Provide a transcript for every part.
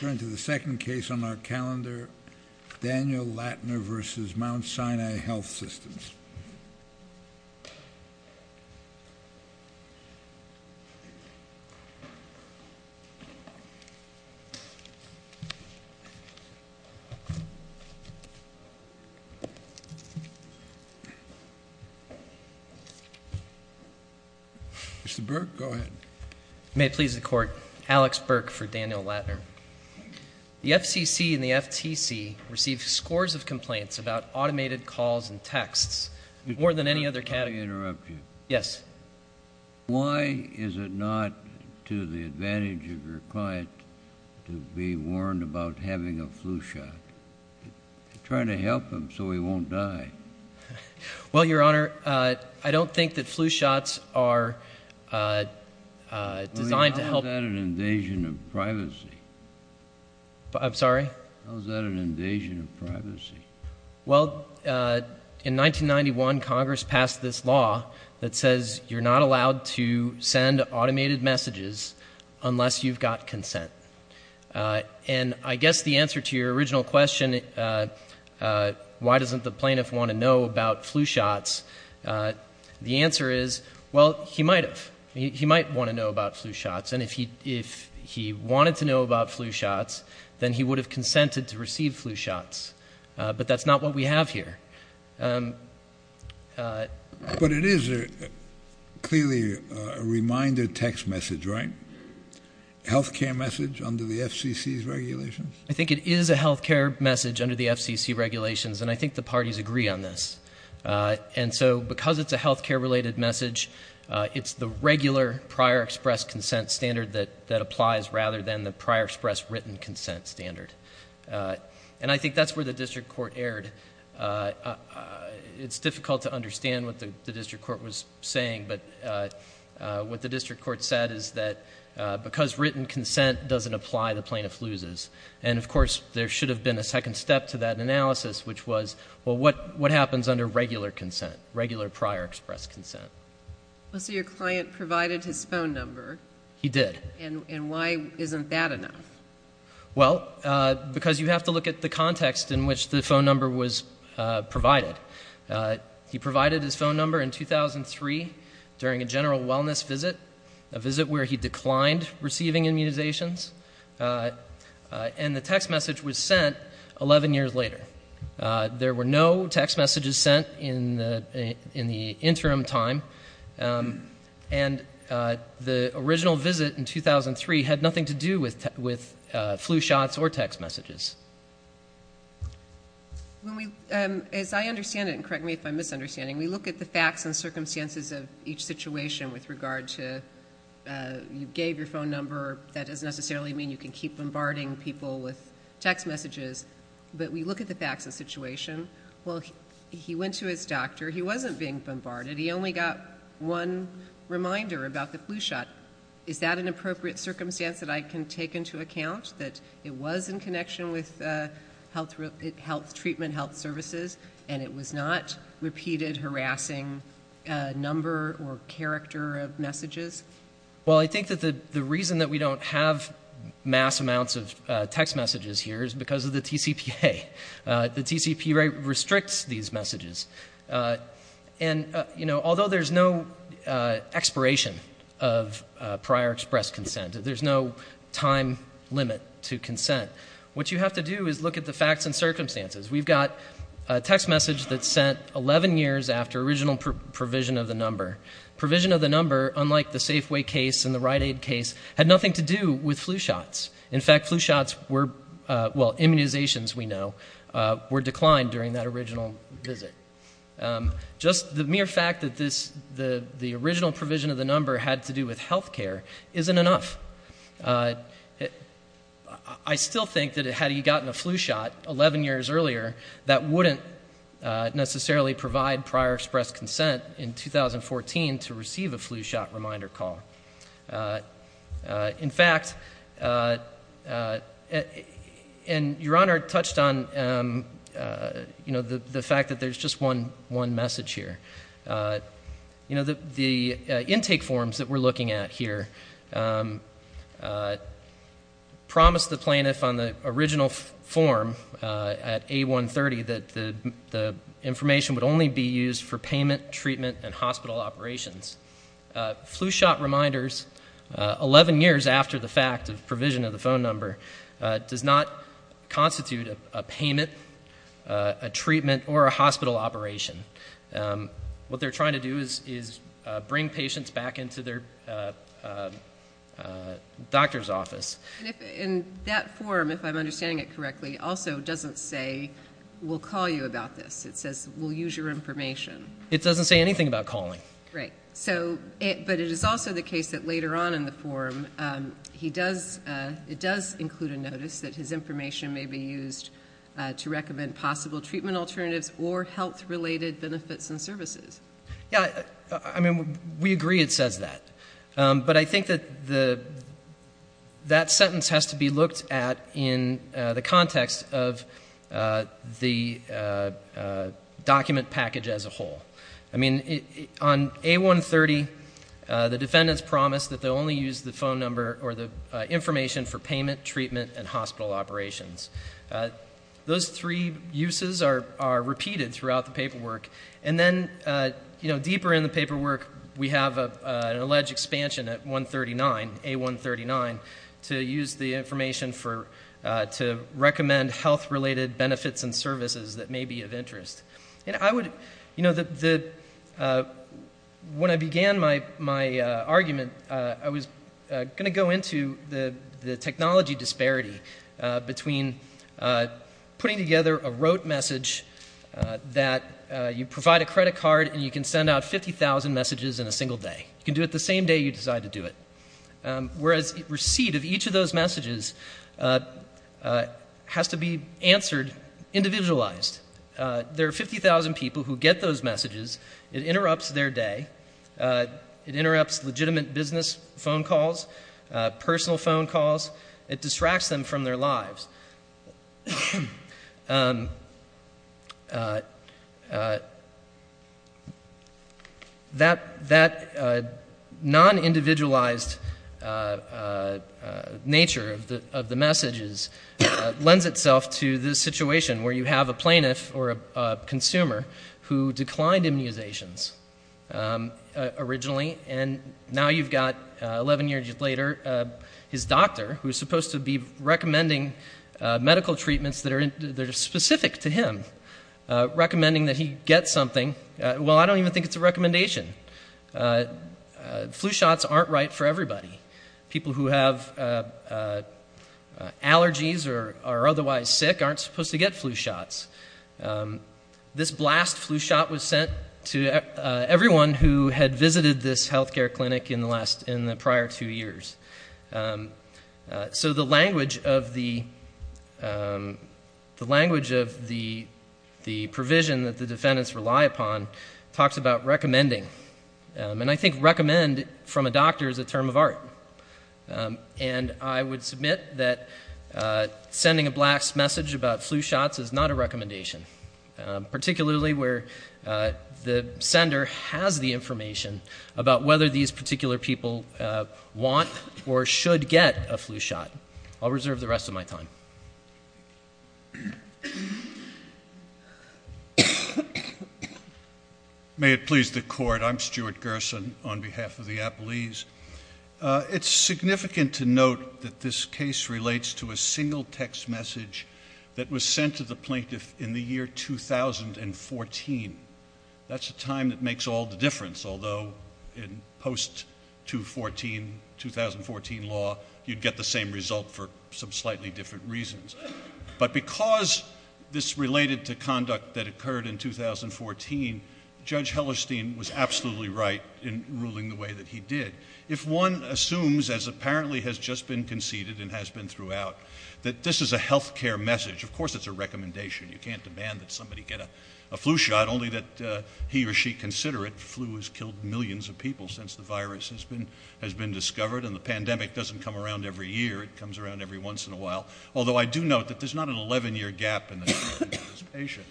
Turn to the second case on our calendar, Daniel Lattner v. Mount Sinai Health Systems. Mr. Burke, go ahead. May it please the Court, Alex Burke for Daniel Lattner. The FCC and the FTC receive scores of complaints about automated calls and texts, more than any other category. May I interrupt you? Yes. Why is it not to the advantage of your client to be warned about having a flu shot? You're trying to help him so he won't die. Well, Your Honor, I don't think that flu shots are designed to help— How is that an invasion of privacy? I'm sorry? How is that an invasion of privacy? Well, in 1991, Congress passed this law that says you're not allowed to send automated messages unless you've got consent. And I guess the answer to your original question, why doesn't the plaintiff want to know about flu shots, the answer is, well, he might have. He might want to know about flu shots. And if he wanted to know about flu shots, then he would have consented to receive flu shots. But that's not what we have here. But it is clearly a reminder text message, right? Healthcare message under the FCC's regulations? I think it is a healthcare message under the FCC regulations, and I think the parties agree on this. And so because it's a healthcare-related message, it's the regular prior express consent standard that applies rather than the prior express written consent standard. And I think that's where the district court erred. It's difficult to understand what the district court was saying, but what the district court said is that because written consent doesn't apply, the plaintiff loses. And, of course, there should have been a second step to that analysis, which was, well, what happens under regular consent, regular prior express consent? Well, so your client provided his phone number. He did. And why isn't that enough? Well, because you have to look at the context in which the phone number was provided. He provided his phone number in 2003 during a general wellness visit, a visit where he declined receiving immunizations, and the text message was sent 11 years later. There were no text messages sent in the interim time, and the original visit in 2003 had nothing to do with flu shots or text messages. As I understand it, and correct me if I'm misunderstanding, we look at the facts and circumstances of each situation with regard to you gave your phone number. That doesn't necessarily mean you can keep bombarding people with text messages, but we look at the facts and situation. Well, he went to his doctor. He wasn't being bombarded. He only got one reminder about the flu shot. Is that an appropriate circumstance that I can take into account, that it was in connection with health treatment, health services, and it was not repeated harassing number or character of messages? Well, I think that the reason that we don't have mass amounts of text messages here is because of the TCPA. The TCPA restricts these messages. And, you know, although there's no expiration of prior express consent, there's no time limit to consent, what you have to do is look at the facts and circumstances. We've got a text message that's sent 11 years after original provision of the number. Provision of the number, unlike the Safeway case and the Rite Aid case, had nothing to do with flu shots. In fact, flu shots were, well, immunizations, we know, were declined during that original visit. Just the mere fact that the original provision of the number had to do with health care isn't enough. I still think that had he gotten a flu shot 11 years earlier, that wouldn't necessarily provide prior express consent in 2014 to receive a flu shot reminder call. In fact, and Your Honor touched on, you know, the fact that there's just one message here. You know, the intake forms that we're looking at here promise the plaintiff on the original form at A130 that the information would only be used for payment, treatment, and hospital operations. Flu shot reminders, 11 years after the fact of provision of the phone number, does not constitute a payment, a treatment, or a hospital operation. What they're trying to do is bring patients back into their doctor's office. And that form, if I'm understanding it correctly, also doesn't say, we'll call you about this. It says, we'll use your information. It doesn't say anything about calling. Right. But it is also the case that later on in the form, it does include a notice that his information may be used to recommend possible treatment alternatives or health-related benefits and services. Yeah. I mean, we agree it says that. But I think that that sentence has to be looked at in the context of the document package as a whole. I mean, on A130, the defendants promise that they'll only use the phone number or the information for payment, treatment, and hospital operations. Those three uses are repeated throughout the paperwork. And then deeper in the paperwork, we have an alleged expansion at 139, A139, to use the information to recommend health-related benefits and services that may be of interest. And when I began my argument, I was going to go into the technology disparity between putting together a rote message that you provide a credit card and you can send out 50,000 messages in a single day. You can do it the same day you decide to do it. Whereas receipt of each of those messages has to be answered individualized. There are 50,000 people who get those messages. It interrupts their day. It interrupts legitimate business phone calls, personal phone calls. It distracts them from their lives. That non-individualized nature of the messages lends itself to this situation where you have a plaintiff or a consumer who declined immunizations originally, and now you've got, 11 years later, his doctor, who's supposed to be recommending medical treatments that are specific to him, recommending that he get something. Well, I don't even think it's a recommendation. Flu shots aren't right for everybody. People who have allergies or are otherwise sick aren't supposed to get flu shots. This blast flu shot was sent to everyone who had visited this health care clinic in the prior two years. So the language of the provision that the defendants rely upon talks about recommending. And I think recommend from a doctor is a term of art. And I would submit that sending a blast message about flu shots is not a recommendation, particularly where the sender has the information about whether these particular people want or should get a flu shot. I'll reserve the rest of my time. May it please the Court. I'm Stuart Gerson on behalf of the Applees. It's significant to note that this case relates to a single text message that was sent to the plaintiff in the year 2014. That's a time that makes all the difference, although in post-2014 law you'd get the same result for some slightly different reasons. But because this related to conduct that occurred in 2014, Judge Hellerstein was absolutely right in ruling the way that he did. If one assumes, as apparently has just been conceded and has been throughout, that this is a health care message, of course it's a recommendation. You can't demand that somebody get a flu shot, only that he or she consider it. Flu has killed millions of people since the virus has been discovered, and the pandemic doesn't come around every year. It comes around every once in a while. Although I do note that there's not an 11-year gap in the time of this patient.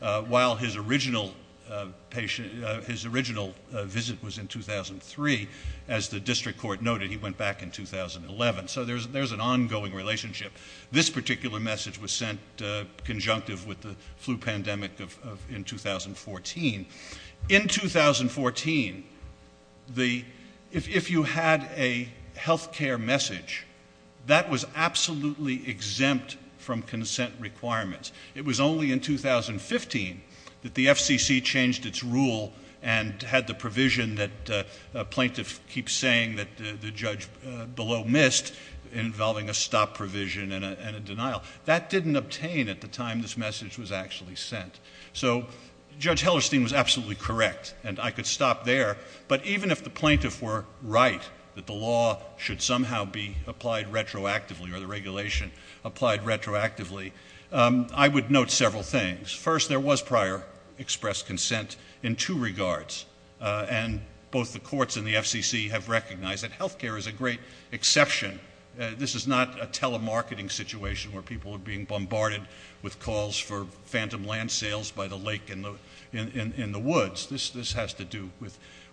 While his original visit was in 2003, as the district court noted, he went back in 2011. So there's an ongoing relationship. This particular message was sent conjunctive with the flu pandemic in 2014. In 2014, if you had a health care message, that was absolutely exempt from consent requirements. It was only in 2015 that the FCC changed its rule and had the provision that a plaintiff keeps saying that the judge below missed, involving a stop provision and a denial. That didn't obtain at the time this message was actually sent. So Judge Hellerstein was absolutely correct, and I could stop there, but even if the plaintiff were right that the law should somehow be applied retroactively or the regulation applied retroactively, I would note several things. First, there was prior expressed consent in two regards, and both the courts and the FCC have recognized that health care is a great exception. This is not a telemarketing situation where people are being bombarded with calls for phantom land sales by the lake in the woods. This has to do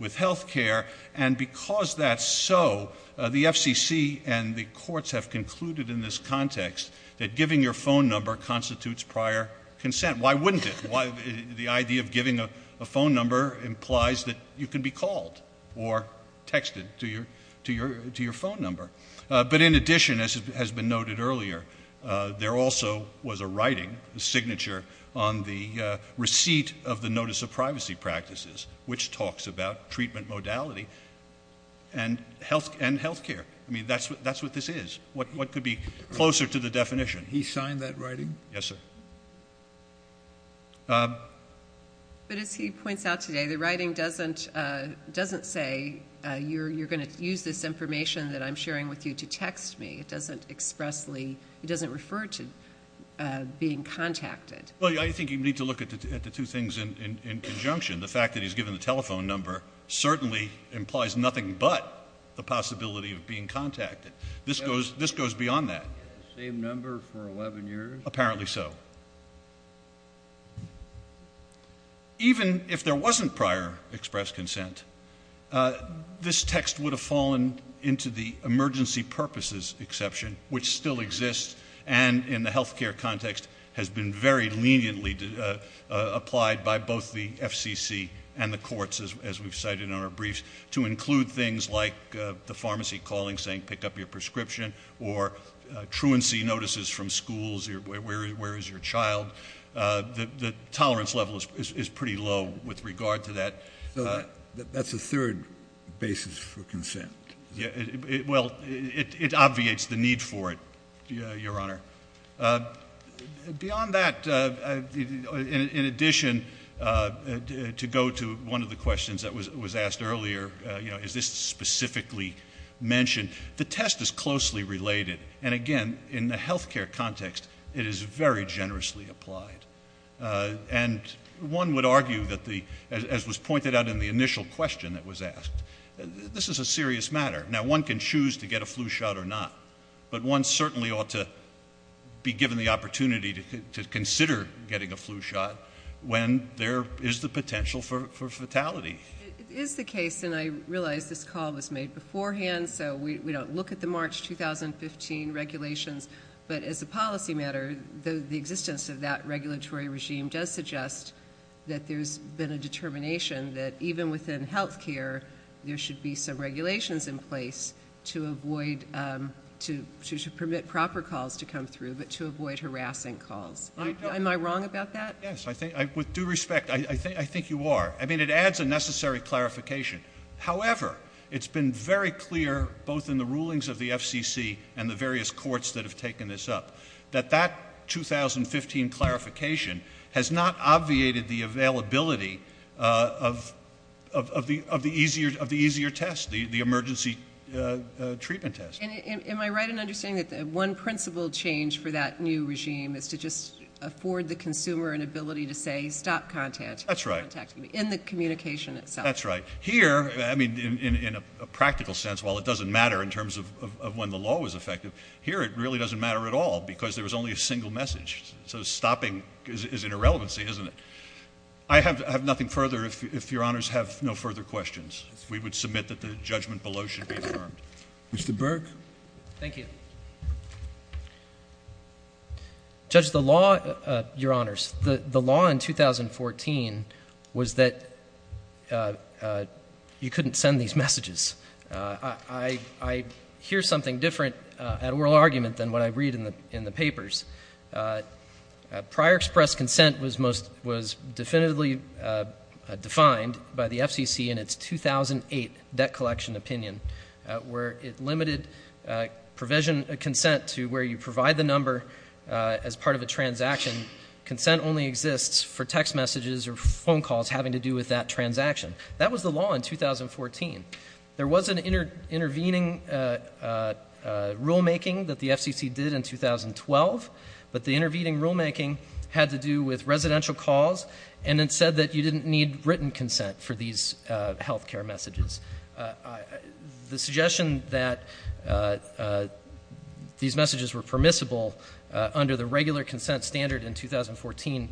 with health care, and because that's so, the FCC and the courts have concluded in this context that giving your phone number constitutes prior consent. Why wouldn't it? The idea of giving a phone number implies that you can be called or texted to your phone number. But in addition, as has been noted earlier, there also was a writing, a signature, on the receipt of the Notice of Privacy Practices, which talks about treatment modality and health care. I mean, that's what this is. What could be closer to the definition? He signed that writing? Yes, sir. But as he points out today, the writing doesn't say, you're going to use this information that I'm sharing with you to text me. It doesn't expressly, it doesn't refer to being contacted. Well, I think you need to look at the two things in conjunction. The fact that he's given the telephone number certainly implies nothing but the possibility of being contacted. This goes beyond that. Same number for 11 years? Apparently so. Even if there wasn't prior express consent, this text would have fallen into the emergency purposes exception, which still exists, and in the health care context has been very leniently applied by both the FCC and the courts, as we've cited in our briefs, to include things like the pharmacy calling saying, pick up your prescription, or truancy notices from schools, where is your child. The tolerance level is pretty low with regard to that. So that's a third basis for consent? Well, it obviates the need for it, Your Honor. Beyond that, in addition, to go to one of the questions that was asked earlier, is this specifically mentioned, the test is closely related, and again, in the health care context, it is very generously applied. And one would argue, as was pointed out in the initial question that was asked, this is a serious matter. Now, one can choose to get a flu shot or not, but one certainly ought to be given the opportunity to consider getting a flu shot when there is the potential for fatality. It is the case, and I realize this call was made beforehand, so we don't look at the March 2015 regulations, but as a policy matter, the existence of that regulatory regime does suggest that there's been a determination that even within health care, there should be some regulations in place to avoid, to permit proper calls to come through, but to avoid harassing calls. Am I wrong about that? Yes. With due respect, I think you are. I mean, it adds a necessary clarification. However, it's been very clear, both in the rulings of the FCC and the various courts that have taken this up, that that 2015 clarification has not obviated the availability of the easier test, the emergency treatment test. Am I right in understanding that one principle change for that new regime is to just afford the consumer an ability to say, stop contacting me? That's right. In the communication itself. That's right. Here, I mean, in a practical sense, while it doesn't matter in terms of when the law was effective, here it really doesn't matter at all because there was only a single message. So stopping is an irrelevancy, isn't it? I have nothing further if Your Honors have no further questions. We would submit that the judgment below should be affirmed. Mr. Burke. Thank you. Judge, the law, Your Honors, the law in 2014 was that you couldn't send these messages. I hear something different at oral argument than what I read in the papers. Prior express consent was definitively defined by the FCC in its 2008 debt collection opinion where it limited provision consent to where you provide the number as part of a transaction. Consent only exists for text messages or phone calls having to do with that transaction. That was the law in 2014. There was an intervening rulemaking that the FCC did in 2012, but the intervening rulemaking had to do with residential calls and it said that you didn't need written consent for these health care messages. The suggestion that these messages were permissible under the regular consent standard in 2014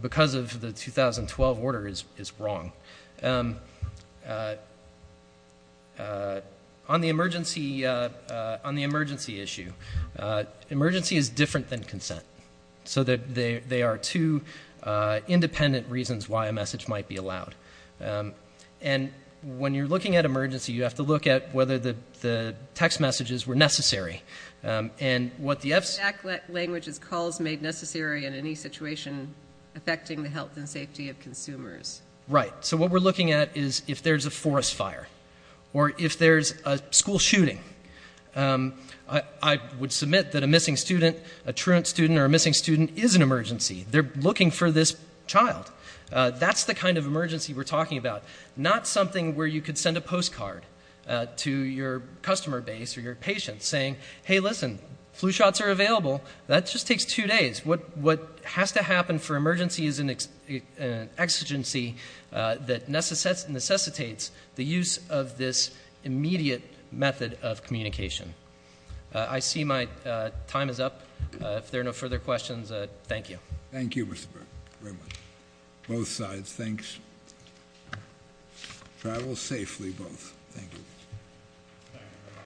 because of the 2012 order is wrong. On the emergency issue, emergency is different than consent. So they are two independent reasons why a message might be allowed. And when you're looking at emergency, you have to look at whether the text messages were necessary. And what the FCC... The exact language is calls made necessary in any situation affecting the health and safety of consumers. Right. So what we're looking at is if there's a forest fire or if there's a school shooting. I would submit that a missing student, a truant student or a missing student is an emergency. They're looking for this child. That's the kind of emergency we're talking about, not something where you could send a postcard to your customer base or your patient saying, hey, listen, flu shots are available. That just takes two days. What has to happen for emergency is an exigency that necessitates the use of this immediate method of communication. I see my time is up. If there are no further questions, thank you. Thank you, Mr. Burke, very much. Both sides, thanks. Travel safely, both. Thank you.